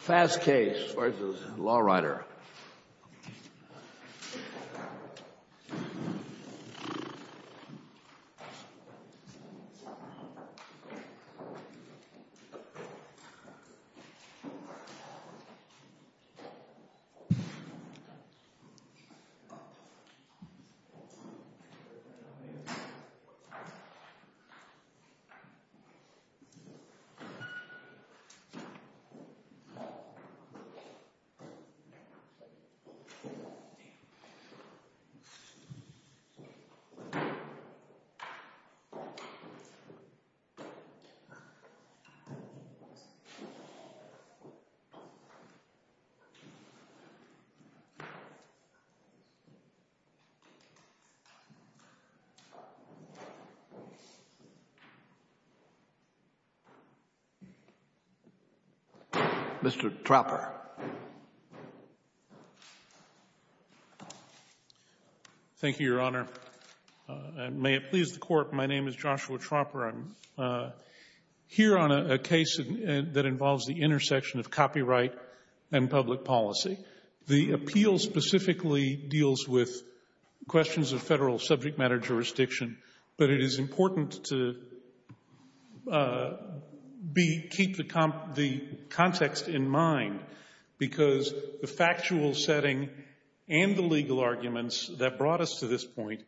FASTCASE, Inc. v. Lawriter, LLC FASTCASE, Inc. v. Lawriter, LLC Mr. Trauper. Thank you, Your Honor. May it please the Court, my name is Joshua Trauper. I'm here on a case that involves the intersection of copyright and public policy. The appeal specifically deals with questions of Federal subject matter jurisdiction, but it is important to keep the context in mind because the factual setting and the legal arguments that brought us to this point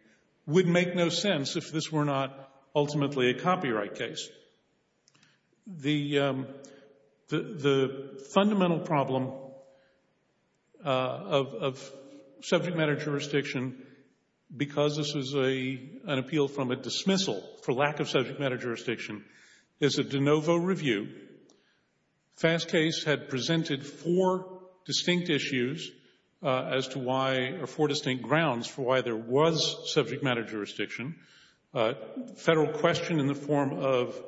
would make no sense if this were not ultimately a copyright case. The fundamental problem of subject matter jurisdiction, because this is an appeal from a dismissal for lack of subject matter jurisdiction, is a de novo review. FASTCASE had presented four distinct issues as to why, or four distinct grounds for why there was subject matter jurisdiction. Federal question in the form of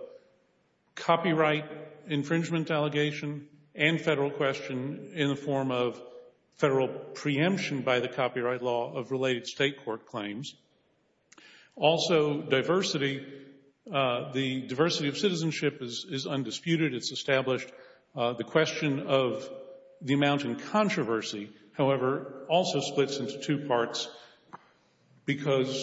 copyright infringement allegation and Federal question in the form of Federal preemption by the copyright law of related State court claims. Also, diversity, the diversity of citizenship is undisputed. It's established. The question of the amount in controversy, however, also splits into two parts because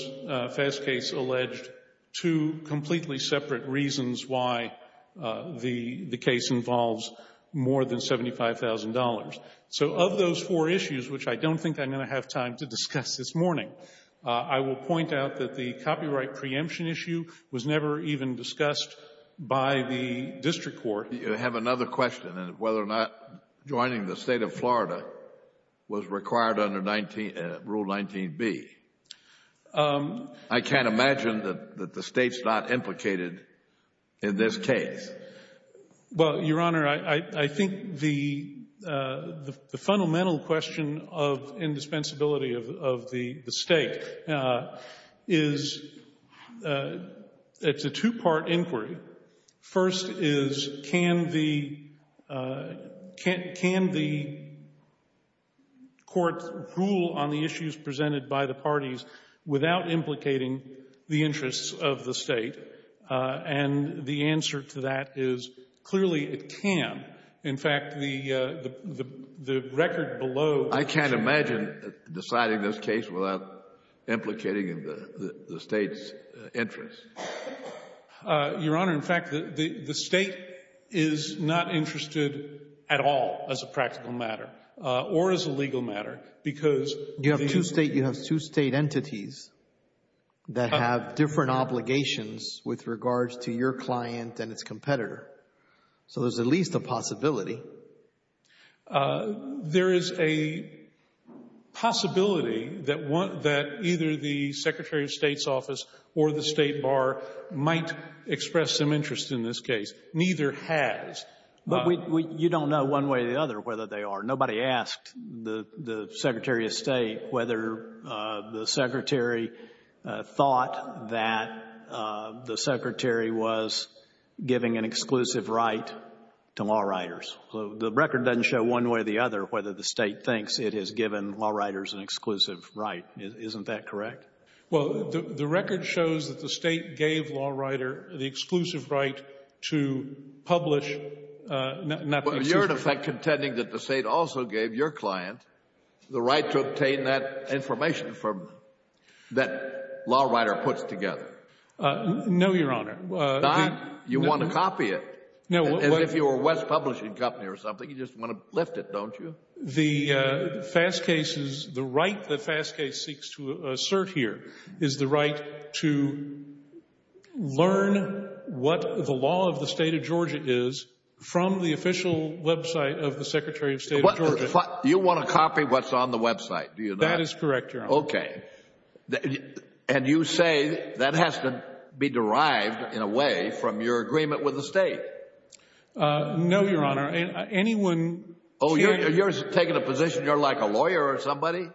FASTCASE alleged two completely separate reasons why the case involves more than $75,000. So of those four issues, which I don't think I'm going to have time to discuss this morning, I will point out that the copyright preemption issue was never even discussed by the District Court. You have another question on whether or not joining the State of Florida was required under Rule 19B. I can't imagine that the State's not implicated in this case. Well, Your Honor, I think the fundamental question of indispensability of the State is it's a two-part inquiry. First is can the court rule on the issues presented by the parties without implicating the interests of the State? And the answer to that is clearly it can. In fact, the record below the issue of the State of Florida is that it can. I can't imagine deciding this case without implicating the State's interests. Your Honor, in fact, the State is not interested at all as a practical matter or as a legal matter because the You have two State entities that have different obligations with regards to your client and its competitor. So there's at least a possibility. There is a possibility that either the Secretary of State's office or the State Bar might express some interest in this case. Neither has. But you don't know one way or the other whether they are. Nobody asked the Secretary of State whether the Secretary thought that the Secretary was giving an exclusive right to law writers. So the record doesn't show one way or the other whether the State thinks it has given law writers an exclusive right. Isn't that correct? Well, the record shows that the State gave law writer the exclusive right to publish. But you're, in effect, contending that the State also gave your client the right to obtain that information that law writer puts together. No, Your Honor. You want to copy it. As if you were West Publishing Company or something. You just want to lift it, don't you? The right that FASTCASE seeks to assert here is the right to learn what the law of the State of Georgia is from the official website of the Secretary of State of Georgia. You want to copy what's on the website, do you not? That is correct, Your Honor. Okay. And you say that has to be derived, in a way, from your agreement with the State. No, Your Honor. Oh, you're taking a position you're like a lawyer or somebody?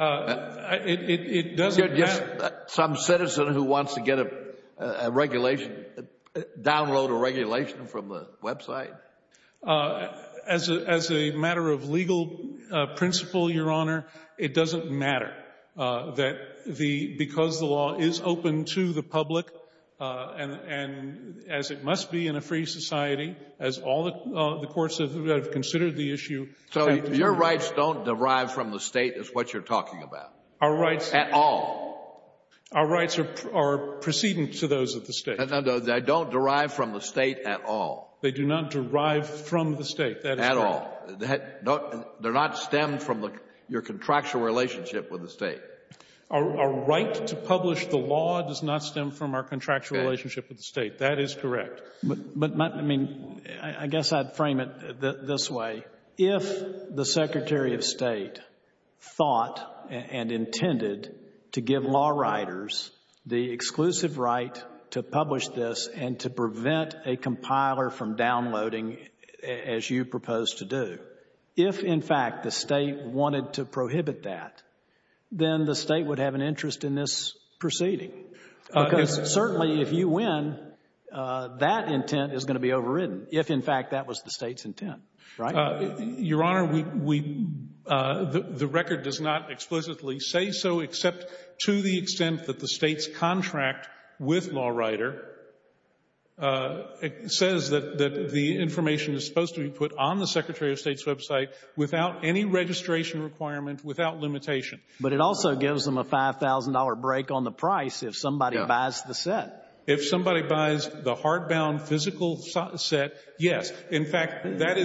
It doesn't matter. Some citizen who wants to get a regulation, download a regulation from the website? As a matter of legal principle, Your Honor, it doesn't matter. Because the law is open to the public, and as it must be in a free society, as all the courts that have considered the issue. So your rights don't derive from the State, is what you're talking about? Our rights. At all? Our rights are precedence to those of the State. They don't derive from the State at all. They do not derive from the State. At all. They're not stemmed from your contractual relationship with the State. Our right to publish the law does not stem from our contractual relationship with the State. That is correct. But, I mean, I guess I'd frame it this way. If the Secretary of State thought and intended to give law writers the exclusive right to publish this and to prevent a compiler from downloading as you proposed to do, if, in fact, the State wanted to prohibit that, then the State would have an interest in this proceeding. Because certainly if you win, that intent is going to be overridden. If, in fact, that was the State's intent. Your Honor, the record does not explicitly say so except to the extent that the State's contract with law writer says that the information is supposed to be put on the Secretary of State's website without any registration requirement, without limitation. But it also gives them a $5,000 break on the price if somebody buys the set. If somebody buys the hardbound physical set, yes. In fact, that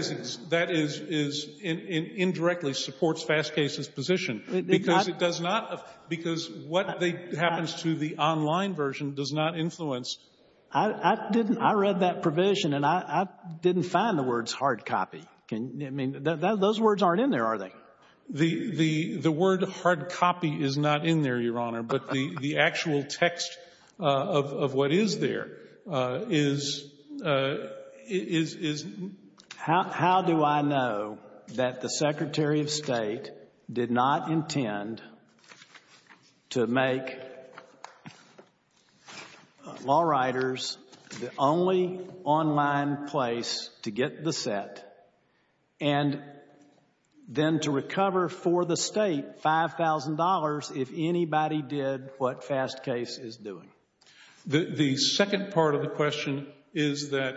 indirectly supports Fastcase's position because what happens to the online version does not influence. I read that provision, and I didn't find the words hard copy. I mean, those words aren't in there, are they? The word hard copy is not in there, Your Honor, but the actual text of what is there is — How do I know that the Secretary of State did not intend to make law writers the only online place to get the set and then to recover for the State $5,000 if anybody did what Fastcase is doing? The second part of the question is that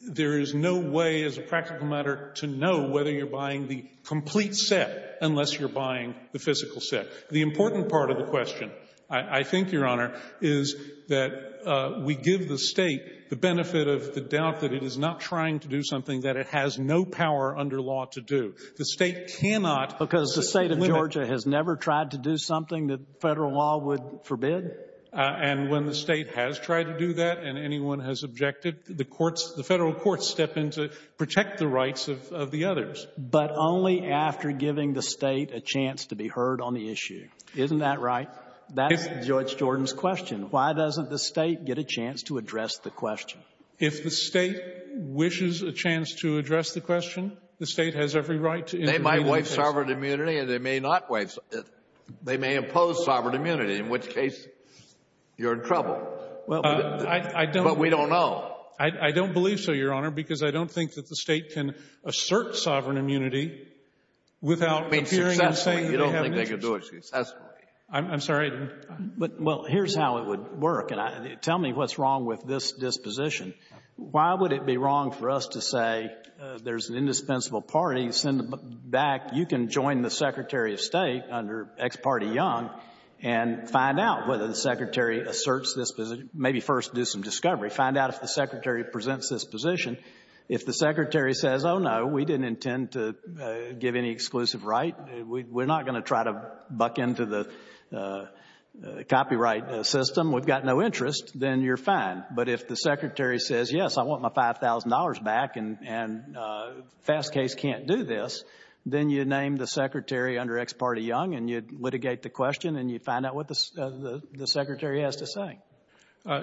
there is no way as a practical matter to know whether you're buying the complete set unless you're buying the physical set. The important part of the question, I think, Your Honor, is that we give the State the benefit of the doubt that it is not trying to do something that it has no power under law to do. The State cannot — Because the State of Georgia has never tried to do something that Federal law would forbid? And when the State has tried to do that and anyone has objected, the courts — the Federal courts step in to protect the rights of the others. But only after giving the State a chance to be heard on the issue. Isn't that right? That's Judge Jordan's question. Why doesn't the State get a chance to address the question? If the State wishes a chance to address the question, the State has every right to intervene. They might waive sovereign immunity and they may not waive — they may impose sovereign immunity, in which case you're in trouble. Well, I don't — But we don't know. I don't believe so, Your Honor, because I don't think that the State can assert sovereign immunity without appearing and saying that they have an interest. I mean, successfully. You don't think they could do it successfully? I'm sorry. Well, here's how it would work, and tell me what's wrong with this disposition. Why would it be wrong for us to say there's an indispensable party, send them back, you can join the Secretary of State under ex parte Young and find out whether the Secretary asserts this — maybe first do some discovery, find out if the Secretary presents this position. If the Secretary says, oh, no, we didn't intend to give any exclusive right, we're not going to try to buck into the copyright system, we've got no interest, then you're fine. But if the Secretary says, yes, I want my $5,000 back and fast case can't do this, then you name the Secretary under ex parte Young and you litigate the question and you find out what the Secretary has to say.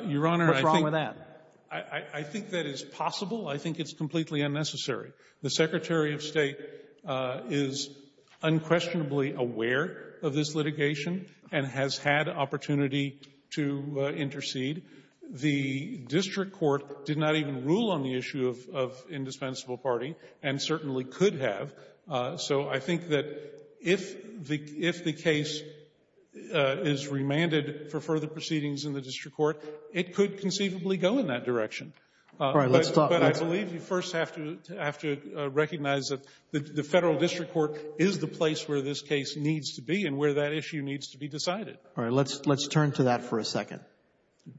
Your Honor, I think — What's wrong with that? I think that is possible. I think it's completely unnecessary. The Secretary of State is unquestionably aware of this litigation and has had opportunity to intercede. The district court did not even rule on the issue of indispensable party and certainly could have. So I think that if the case is remanded for further proceedings in the district court, it could conceivably go in that direction. But I believe you first have to recognize that the federal district court is the place where this case needs to be and where that issue needs to be decided. All right, let's turn to that for a second.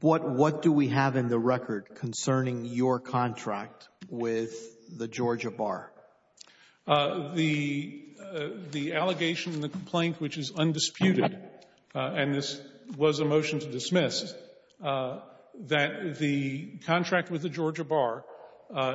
What do we have in the record concerning your contract with the Georgia Bar? The allegation and the complaint, which is undisputed, and this was a motion to dismiss, that the contract with the Georgia Bar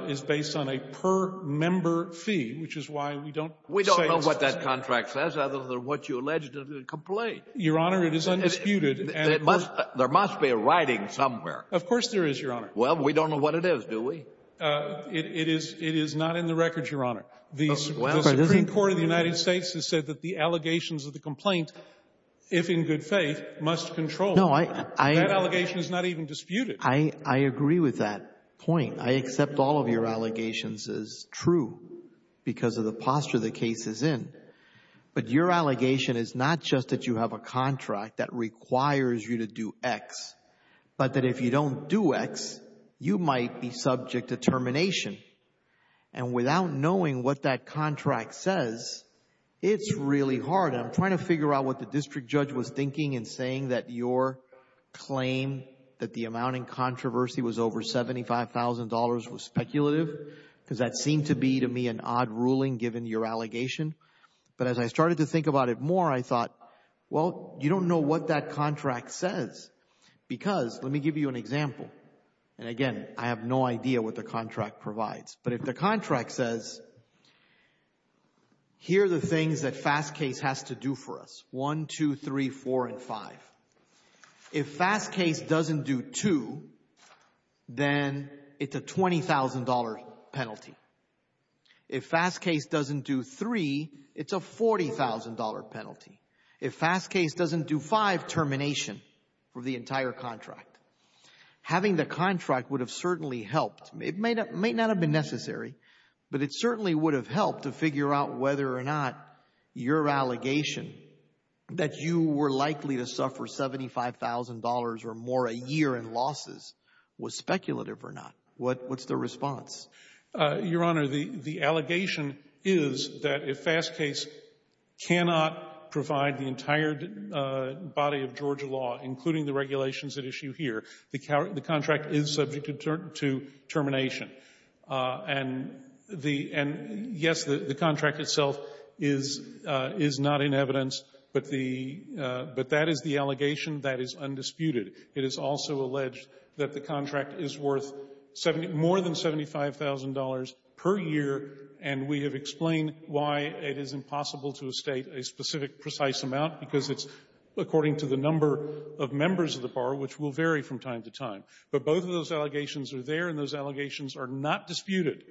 is based on a per-member fee, which is why we don't say — We don't know what that contract says other than what you alleged in the complaint. Your Honor, it is undisputed. There must be a writing somewhere. Of course there is, Your Honor. Well, we don't know what it is, do we? It is not in the record, Your Honor. The Supreme Court of the United States has said that the allegations of the complaint, if in good faith, must control. That allegation is not even disputed. I agree with that point. I accept all of your allegations as true because of the posture the case is in. But your allegation is not just that you have a contract that requires you to do X, but that if you don't do X, you might be subject to termination. And without knowing what that contract says, it's really hard. I'm trying to figure out what the district judge was thinking in saying that your claim, that the amount in controversy was over $75,000, was speculative because that seemed to be, to me, an odd ruling given your allegation. But as I started to think about it more, I thought, well, you don't know what that contract says. Because, let me give you an example. And again, I have no idea what the contract provides. But if the contract says, here are the things that Fast Case has to do for us, 1, 2, 3, 4, and 5. If Fast Case doesn't do 2, then it's a $20,000 penalty. If Fast Case doesn't do 3, it's a $40,000 penalty. If Fast Case doesn't do 5, termination for the entire contract. Having the contract would have certainly helped. It may not have been necessary, but it certainly would have helped to figure out whether or not your allegation that you were likely to suffer $75,000 or more a year in losses was speculative or not. What's the response? Your Honor, the allegation is that if Fast Case cannot provide the entire body of Georgia law, including the regulations at issue here, the contract is subject to termination. And yes, the contract itself is not in evidence, but that is the allegation that is undisputed. It is also alleged that the contract is worth more than $75,000 per year, and we have explained why it is impossible to state a specific, precise amount, because it's according to the number of members of the bar, which will vary from time to time. But both of those allegations are there, and those allegations are not disputed.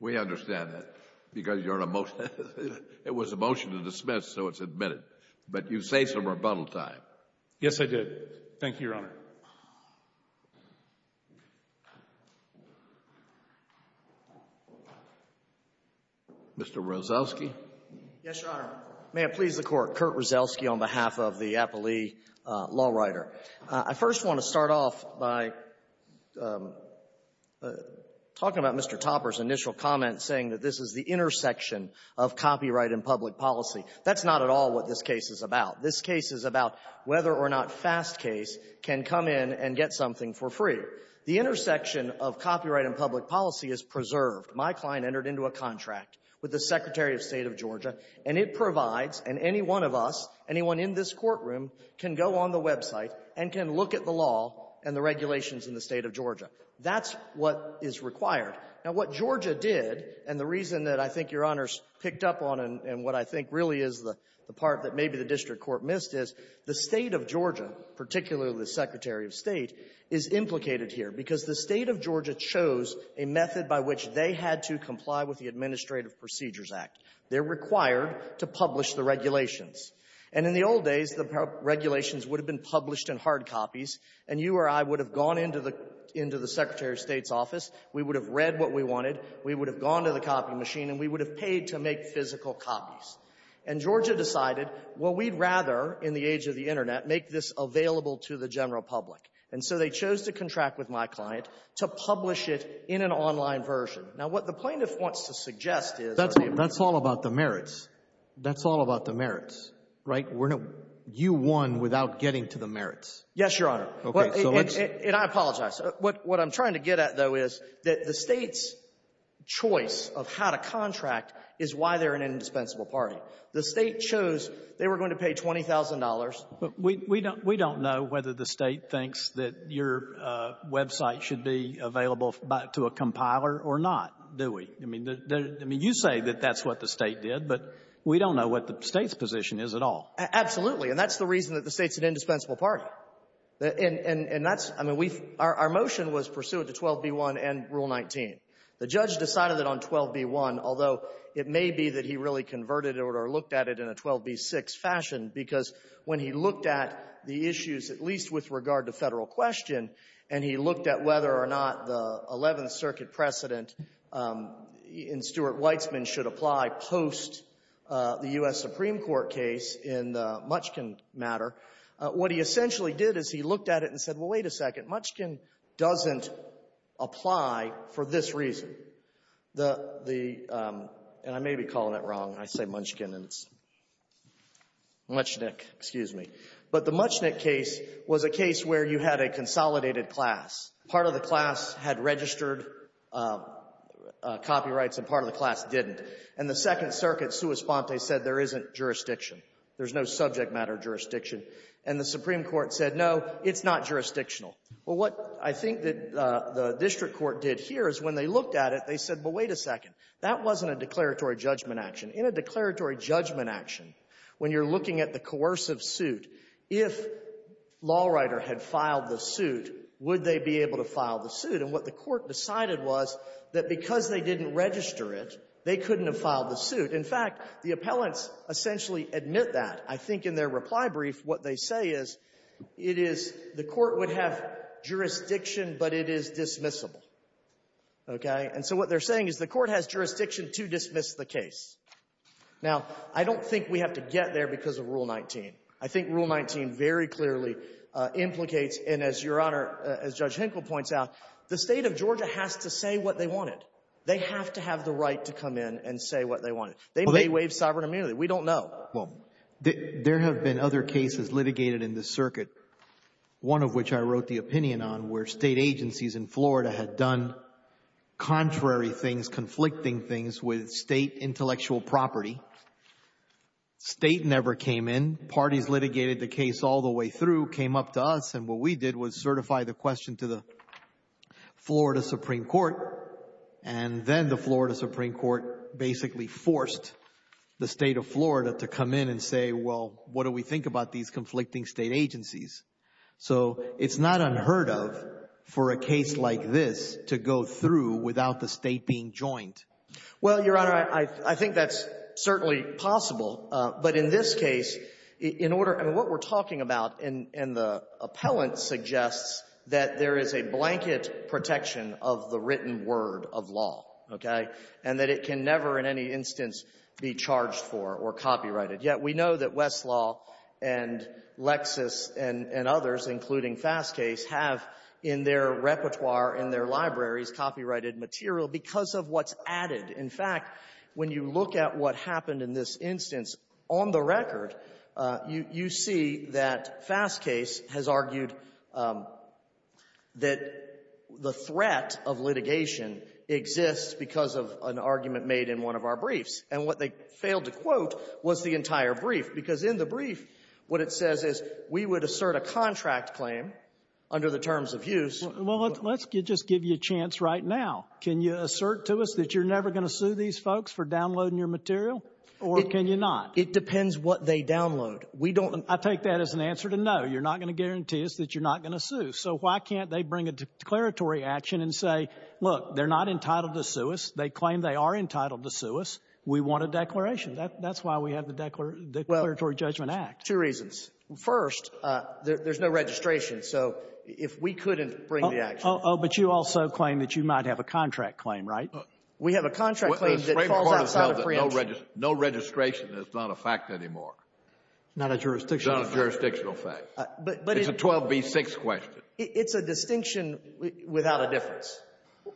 We understand that, because you're in a motion. It was a motion to dismiss, so it's admitted. But you say some rebuttal time. Yes, I did. Thank you, Your Honor. Mr. Rozelski. Yes, Your Honor. May it please the Court. Kurt Rozelski on behalf of the Appley Law Writer. I first want to start off by talking about Mr. Topper's initial comment saying that this is the intersection of copyright and public policy. That's not at all what this case is about. This case is about whether or not Fastcase can come in and get something for free. The intersection of copyright and public policy is preserved. My client entered into a contract with the Secretary of State of Georgia, and it provides, and any one of us, anyone in this courtroom can go on the website and can look at the law and the regulations in the State of Georgia. That's what is required. Now, what Georgia did, and the reason that I think Your Honors picked up on and what I think really is the part that maybe the district court missed, is the State of Georgia, particularly the Secretary of State, is implicated here because the State of Georgia chose a method by which they had to comply with the Administrative Procedures Act. They're required to publish the regulations. And in the old days, the regulations would have been published in hard copies, and you or I would have gone into the Secretary of State's office. We would have read what we wanted. We would have gone to the copy machine, and we would have paid to make physical copies. And Georgia decided, well, we'd rather, in the age of the Internet, make this available to the general public. And so they chose to contract with my client to publish it in an online version. Now, what the plaintiff wants to suggest is That's all about the merits. That's all about the merits, right? You won without getting to the merits. Yes, Your Honor. And I apologize. What I'm trying to get at, though, is that the State's choice of how to contract is why they're an indispensable party. The State chose they were going to pay $20,000. We don't know whether the State thinks that your website should be available to a compiler or not, do we? I mean, you say that that's what the State did, but we don't know what the State's position is at all. Absolutely. And that's the reason that the State's an indispensable party. Right. And that's — I mean, we've — our motion was pursuant to 12b-1 and Rule 19. The judge decided it on 12b-1, although it may be that he really converted it or looked at it in a 12b-6 fashion, because when he looked at the issues, at least with regard to Federal question, and he looked at whether or not the Eleventh Circuit precedent in Stuart Weitzman should apply post-the U.S. Supreme Court case in the Muchkin matter, what he essentially did is he looked at it and said, well, wait a second. Muchkin doesn't apply for this reason. The — and I may be calling it wrong. I say Muchkin, and it's Muchnick. Excuse me. But the Muchnick case was a case where you had a consolidated class. Part of the class had registered copyrights, and part of the class didn't. And the Second Circuit, sua sponte, said there isn't jurisdiction. There's no subject matter jurisdiction. And the Supreme Court said, no, it's not jurisdictional. Well, what I think that the district court did here is when they looked at it, they said, well, wait a second. That wasn't a declaratory judgment action. In a declaratory judgment action, when you're looking at the coercive suit, if Lawrider had filed the suit, would they be able to file the suit? And what the Court decided was that because they didn't register it, they couldn't have filed the suit. In fact, the appellants essentially admit that. I think in their reply brief, what they say is, it is — the Court would have jurisdiction, but it is dismissible. Okay? And so what they're saying is the Court has jurisdiction to dismiss the case. Now, I don't think we have to get there because of Rule 19. I think Rule 19 very clearly implicates, and as Your Honor, as Judge Henkel points out, the State of Georgia has to say what they wanted. They have to have the right to come in and say what they wanted. They may waive sovereign immunity. We don't know. Well, there have been other cases litigated in this circuit, one of which I wrote the opinion on, where State agencies in Florida had done contrary things, conflicting things with State intellectual property. State never came in. Parties litigated the case all the way through, came up to us, and what we did was And then the Florida Supreme Court basically forced the State of Florida to come in and say, well, what do we think about these conflicting State agencies? So it's not unheard of for a case like this to go through without the State being joined. Well, Your Honor, I think that's certainly possible. But in this case, in order — I mean, what we're talking about, and the appellant suggests that there is a blanket protection of the written word of law, okay, and that it can never in any instance be charged for or copyrighted. Yet we know that Westlaw and Lexis and others, including Fastcase, have in their repertoire, in their libraries, copyrighted material because of what's added. In fact, when you look at what happened in this instance, on the record, you see that Fastcase has argued that the threat of litigation exists because of an argument made in one of our briefs. And what they failed to quote was the entire brief. Because in the brief, what it says is we would assert a contract claim under the terms of use — Well, let's just give you a chance right now. Can you assert to us that you're never going to sue these folks for downloading your material? Or can you not? It depends what they download. We don't — I take that as an answer to no. You're not going to guarantee us that you're not going to sue. So why can't they bring a declaratory action and say, look, they're not entitled to sue us. They claim they are entitled to sue us. We want a declaration. That's why we have the Declaratory Judgment Act. Well, two reasons. First, there's no registration. So if we couldn't bring the action — Oh, but you also claim that you might have a contract claim, right? We have a contract claim that falls outside of preemption. No registration is not a fact anymore. Not a jurisdictional fact. It's not a jurisdictional fact. It's a 12b-6 question. It's a distinction without a difference.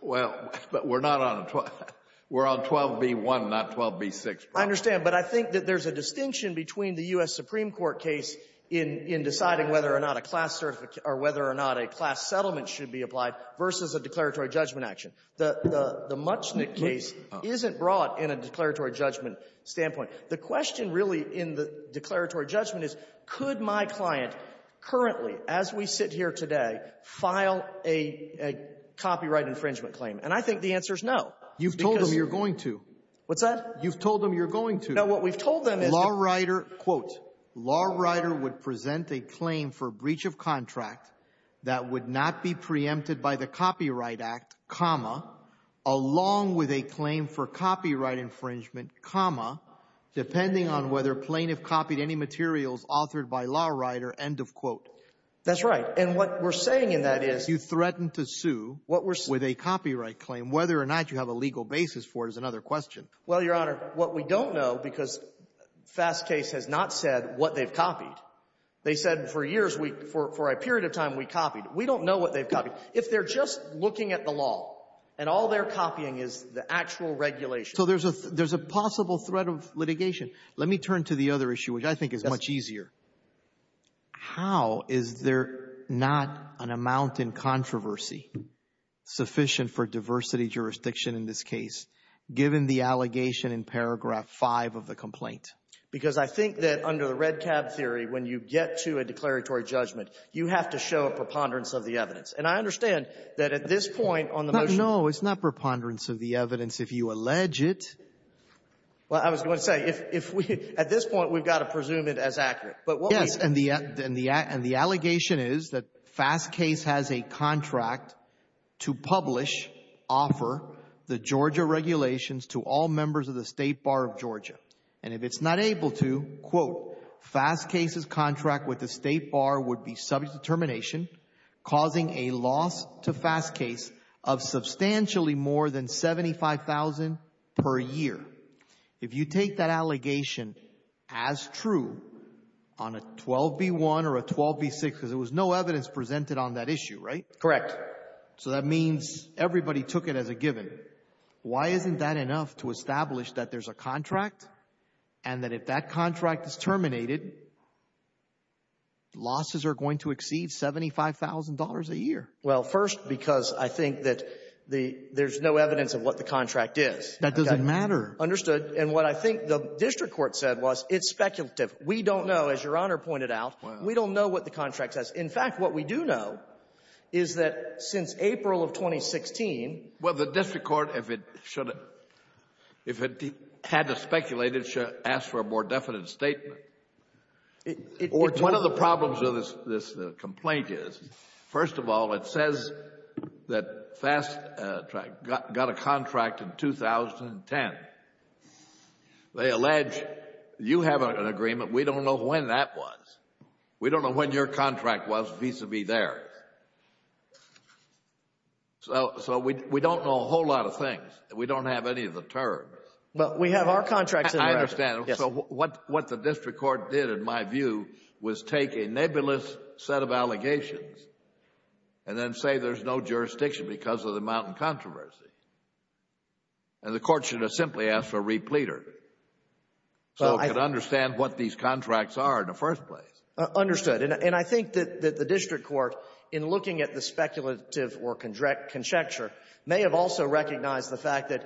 Well, but we're not on a — we're on 12b-1, not 12b-6. I understand. But I think that there's a distinction between the U.S. Supreme Court case in deciding whether or not a class — or whether or not a class settlement should be applied versus a declaratory judgment action. The Muchnick case isn't brought in a declaratory judgment standpoint. The question really in the declaratory judgment is, could my client currently, as we sit here today, file a copyright infringement claim? And I think the answer is no. You've told them you're going to. What's that? You've told them you're going to. No, what we've told them is — Lawrider, quote, Lawrider would present a claim for breach of contract that would not be preempted by the Copyright Act, comma, along with a claim for copyright infringement, comma, depending on whether plaintiff copied any materials authored by Lawrider, end of quote. That's right. And what we're saying in that is — You threatened to sue with a copyright claim. Whether or not you have a legal basis for it is another question. Well, Your Honor, what we don't know, because Fast Case has not said what they've copied. They said for years, for a period of time, we copied. We don't know what they've copied. If they're just looking at the law and all they're copying is the actual regulation — So there's a possible threat of litigation. Let me turn to the other issue, which I think is much easier. How is there not an amount in controversy sufficient for diversity jurisdiction in this case, given the allegation in paragraph 5 of the complaint? Because I think that under the red cab theory, when you get to a declaratory judgment, you have to show a preponderance of the evidence. And I understand that at this point on the motion — No, no. It's not preponderance of the evidence if you allege it. Well, I was going to say, if we — at this point, we've got to presume it as accurate. But what we — the Georgia regulations to all members of the State Bar of Georgia. And if it's not able to, quote, Fast Case's contract with the State Bar would be subject to termination, causing a loss to Fast Case of substantially more than $75,000 per year. If you take that allegation as true on a 12B1 or a 12B6 — because there was no evidence presented on that issue, right? Correct. So that means everybody took it as a given. Why isn't that enough to establish that there's a contract and that if that contract is terminated, losses are going to exceed $75,000 a year? Well, first, because I think that there's no evidence of what the contract is. That doesn't matter. Understood. And what I think the district court said was it's speculative. We don't know, as Your Honor pointed out. We don't know what the contract says. In fact, what we do know is that since April of 2016 — Well, the district court, if it had to speculate, it should have asked for a more definite statement. One of the problems of this complaint is, first of all, it says that Fast got a contract in 2010. They allege you have an agreement. We don't know when that was. We don't know when your contract was vis-à-vis theirs. So we don't know a whole lot of things. We don't have any of the terms. But we have our contracts in the record. I understand. So what the district court did, in my view, was take a nebulous set of allegations and then say there's no jurisdiction because of the mountain controversy. And the court should have simply asked for a repleter so it could understand what these contracts are in the first place. Understood. And I think that the district court, in looking at the speculative or conjecture, may have also recognized the fact that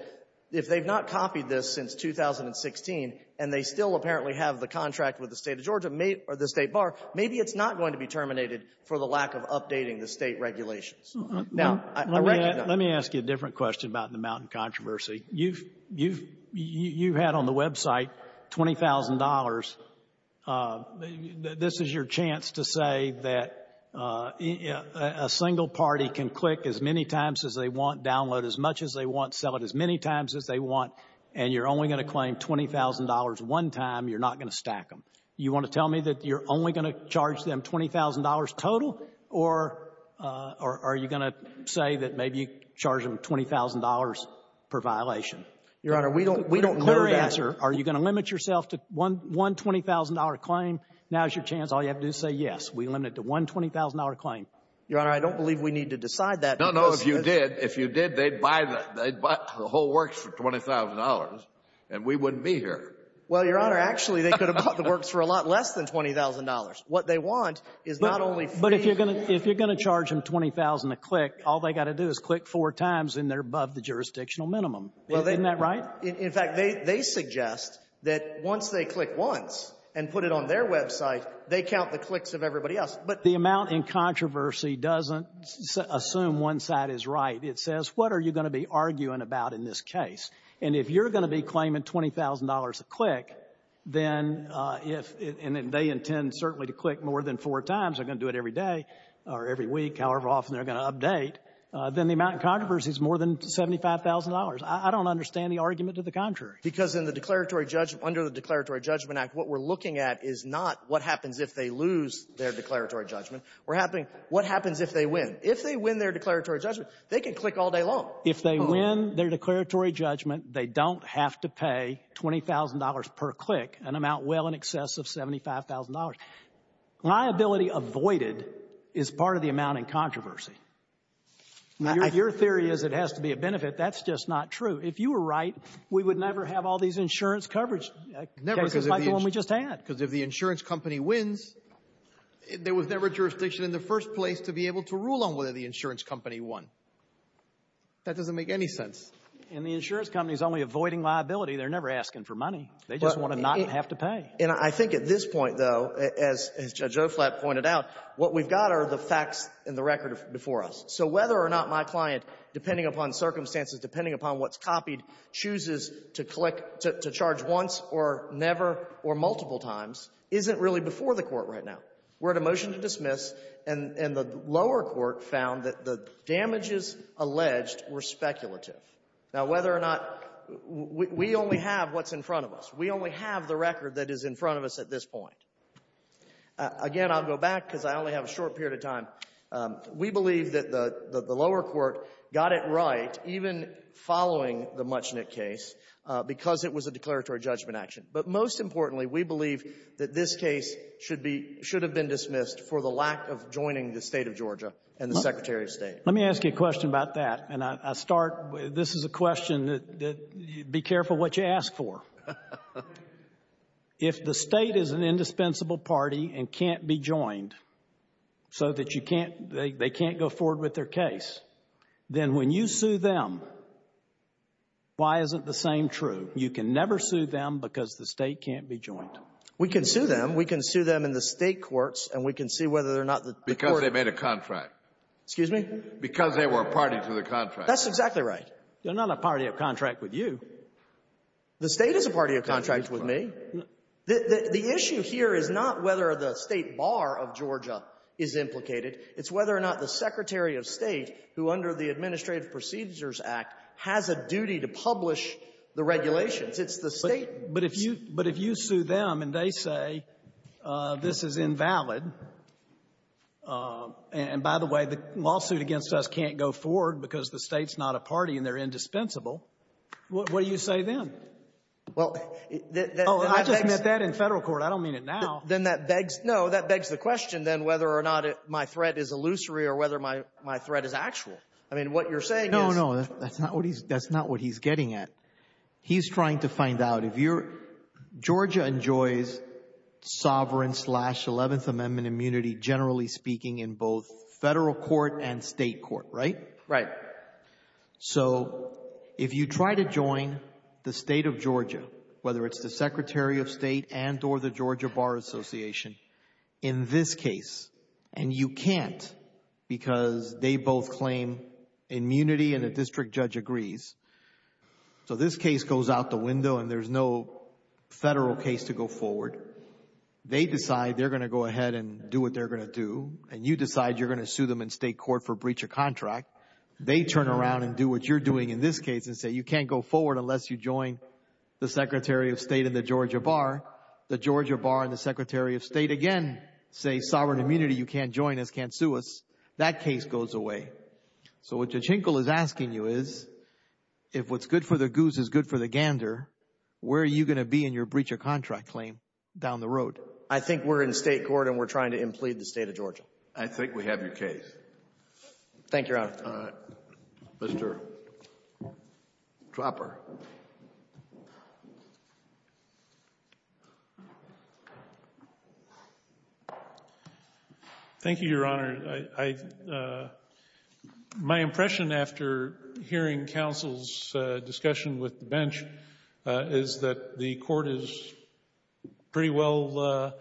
if they've not copied this since 2016 and they still apparently have the contract with the State of Georgia or the State Bar, maybe it's not going to be terminated for the lack of updating the State regulations. Now, I recognize — Let me ask you a different question about the mountain controversy. You've had on the website $20,000. This is your chance to say that a single party can click as many times as they want, download as much as they want, sell it as many times as they want, and you're only going to claim $20,000 one time. You're not going to stack them. You want to tell me that you're only going to charge them $20,000 total? Or are you going to say that maybe you charge them $20,000 per violation? Your Honor, we don't — Clear answer. Are you going to limit yourself to one $20,000 claim? Now is your chance. All you have to do is say yes. We limit it to one $20,000 claim. Your Honor, I don't believe we need to decide that. No, no. If you did, if you did, they'd buy the whole works for $20,000, and we wouldn't be here. Well, Your Honor, actually, they could have bought the works for a lot less than $20,000. What they want is not only free — But if you're going to charge them $20,000 a click, all they've got to do is click four times, and they're above the jurisdictional minimum. Well, they — Isn't that right? In fact, they suggest that once they click once and put it on their website, they count the clicks of everybody else. But — The amount in controversy doesn't assume one side is right. It says what are you going to be arguing about in this case? And if you're going to be claiming $20,000 a click, then if — and they intend certainly to click more than four times. They're going to do it every day or every week, however often they're going to update. Then the amount in controversy is more than $75,000. I don't understand the argument to the contrary. Because in the declaratory — under the Declaratory Judgment Act, what we're looking at is not what happens if they lose their declaratory judgment. We're having what happens if they win. If they win their declaratory judgment, they can click all day long. If they win their declaratory judgment, they don't have to pay $20,000 per click, an amount well in excess of $75,000. Liability avoided is part of the amount in controversy. Your theory is it has to be a benefit. That's just not true. If you were right, we would never have all these insurance coverage cases like the one we just had. Because if the insurance company wins, there was never jurisdiction in the first place to be able to rule on whether the insurance company won. That doesn't make any sense. And the insurance company is only avoiding liability. They're never asking for money. They just want to not have to pay. And I think at this point, though, as Judge Oflat pointed out, what we've got are the facts and the record before us. So whether or not my client, depending upon circumstances, depending upon what's copied, chooses to click — to charge once or never or multiple times isn't really before the Court right now. We're at a motion to dismiss, and the lower court found that the damages alleged were speculative. Now, whether or not — we only have what's in front of us. We only have the record that is in front of us at this point. Again, I'll go back because I only have a short period of time. We believe that the lower court got it right even following the Muchnick case because it was a declaratory judgment action. But most importantly, we believe that this case should have been dismissed for the lack of joining the state of Georgia and the secretary of state. Let me ask you a question about that, and I start — this is a question that — be careful what you ask for. If the state is an indispensable party and can't be joined so that you can't — they can't go forward with their case, then when you sue them, why isn't the same true? You can never sue them because the state can't be joined. We can sue them. We can sue them in the state courts, and we can see whether or not the court — Because they made a contract. Excuse me? Because they were a party to the contract. That's exactly right. They're not a party of contract with you. The state is a party of contract with me. The issue here is not whether the state bar of Georgia is implicated. It's whether or not the secretary of state, who under the Administrative Procedures Act, has a duty to publish the regulations. It's the state — But if you — but if you sue them and they say this is invalid, and by the way, the lawsuit against us can't go forward because the state's not a party and they're indispensable, what do you say then? Well, that — Oh, I just meant that in Federal court. I don't mean it now. Then that begs — no, that begs the question, then, whether or not my threat is illusory or whether my — my threat is actual. I mean, what you're saying is — No, no. That's not what he's — that's not what he's getting at. He's trying to find out if you're — Georgia enjoys sovereign slash 11th Amendment immunity, generally speaking, in both Federal court and state court, right? Right. So if you try to join the state of Georgia, whether it's the secretary of state and or the Georgia Bar Association, in this case, and you can't because they both claim immunity and a district judge agrees, so this case goes out the window and there's no Federal case to go forward. They decide they're going to go ahead and do what they're going to do, and you decide you're going to sue them in state court for breach of contract. They turn around and do what you're doing in this case and say you can't go forward unless you join the secretary of state and the Georgia Bar. The Georgia Bar and the secretary of state again say sovereign immunity, you can't join us, can't sue us. That case goes away. So what Jachinkel is asking you is, if what's good for the goose is good for the gander, where are you going to be in your breach of contract claim down the road? I think we're in state court and we're trying to implead the state of Georgia. I think we have your case. Thank you, Your Honor. Mr. Trapper. Thank you, Your Honor. My impression after hearing counsel's discussion with the bench is that the court is pretty well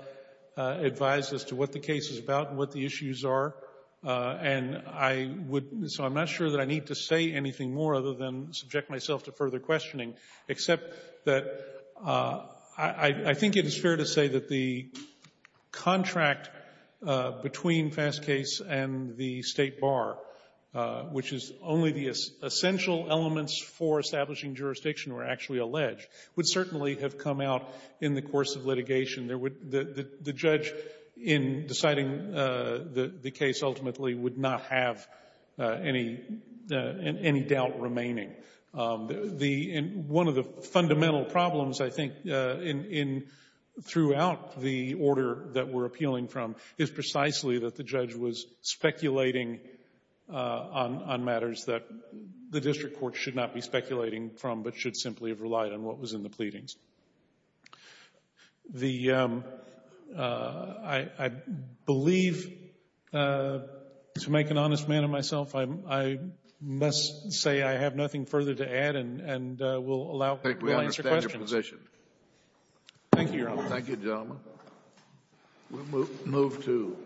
advised as to what the case is about and what the issues are, and I would, so I'm not sure that I need to say anything more other than subject myself to further questioning, except that I think it is fair to say that the contract between Fastcase and the State Bar, which is only the essential elements for establishing jurisdiction or actually alleged, would certainly have come out in the course of litigation. The judge, in deciding the case ultimately, would not have any doubt remaining. One of the fundamental problems, I think, throughout the order that we're appealing from is precisely that the judge was speculating on matters that the district court should not be speculating from but should simply have relied on what was in the pleadings. I believe, to make an honest man of myself, I must say I have nothing further to add and I think we understand your position. Thank you, Your Honor. Thank you, gentlemen. We'll move to...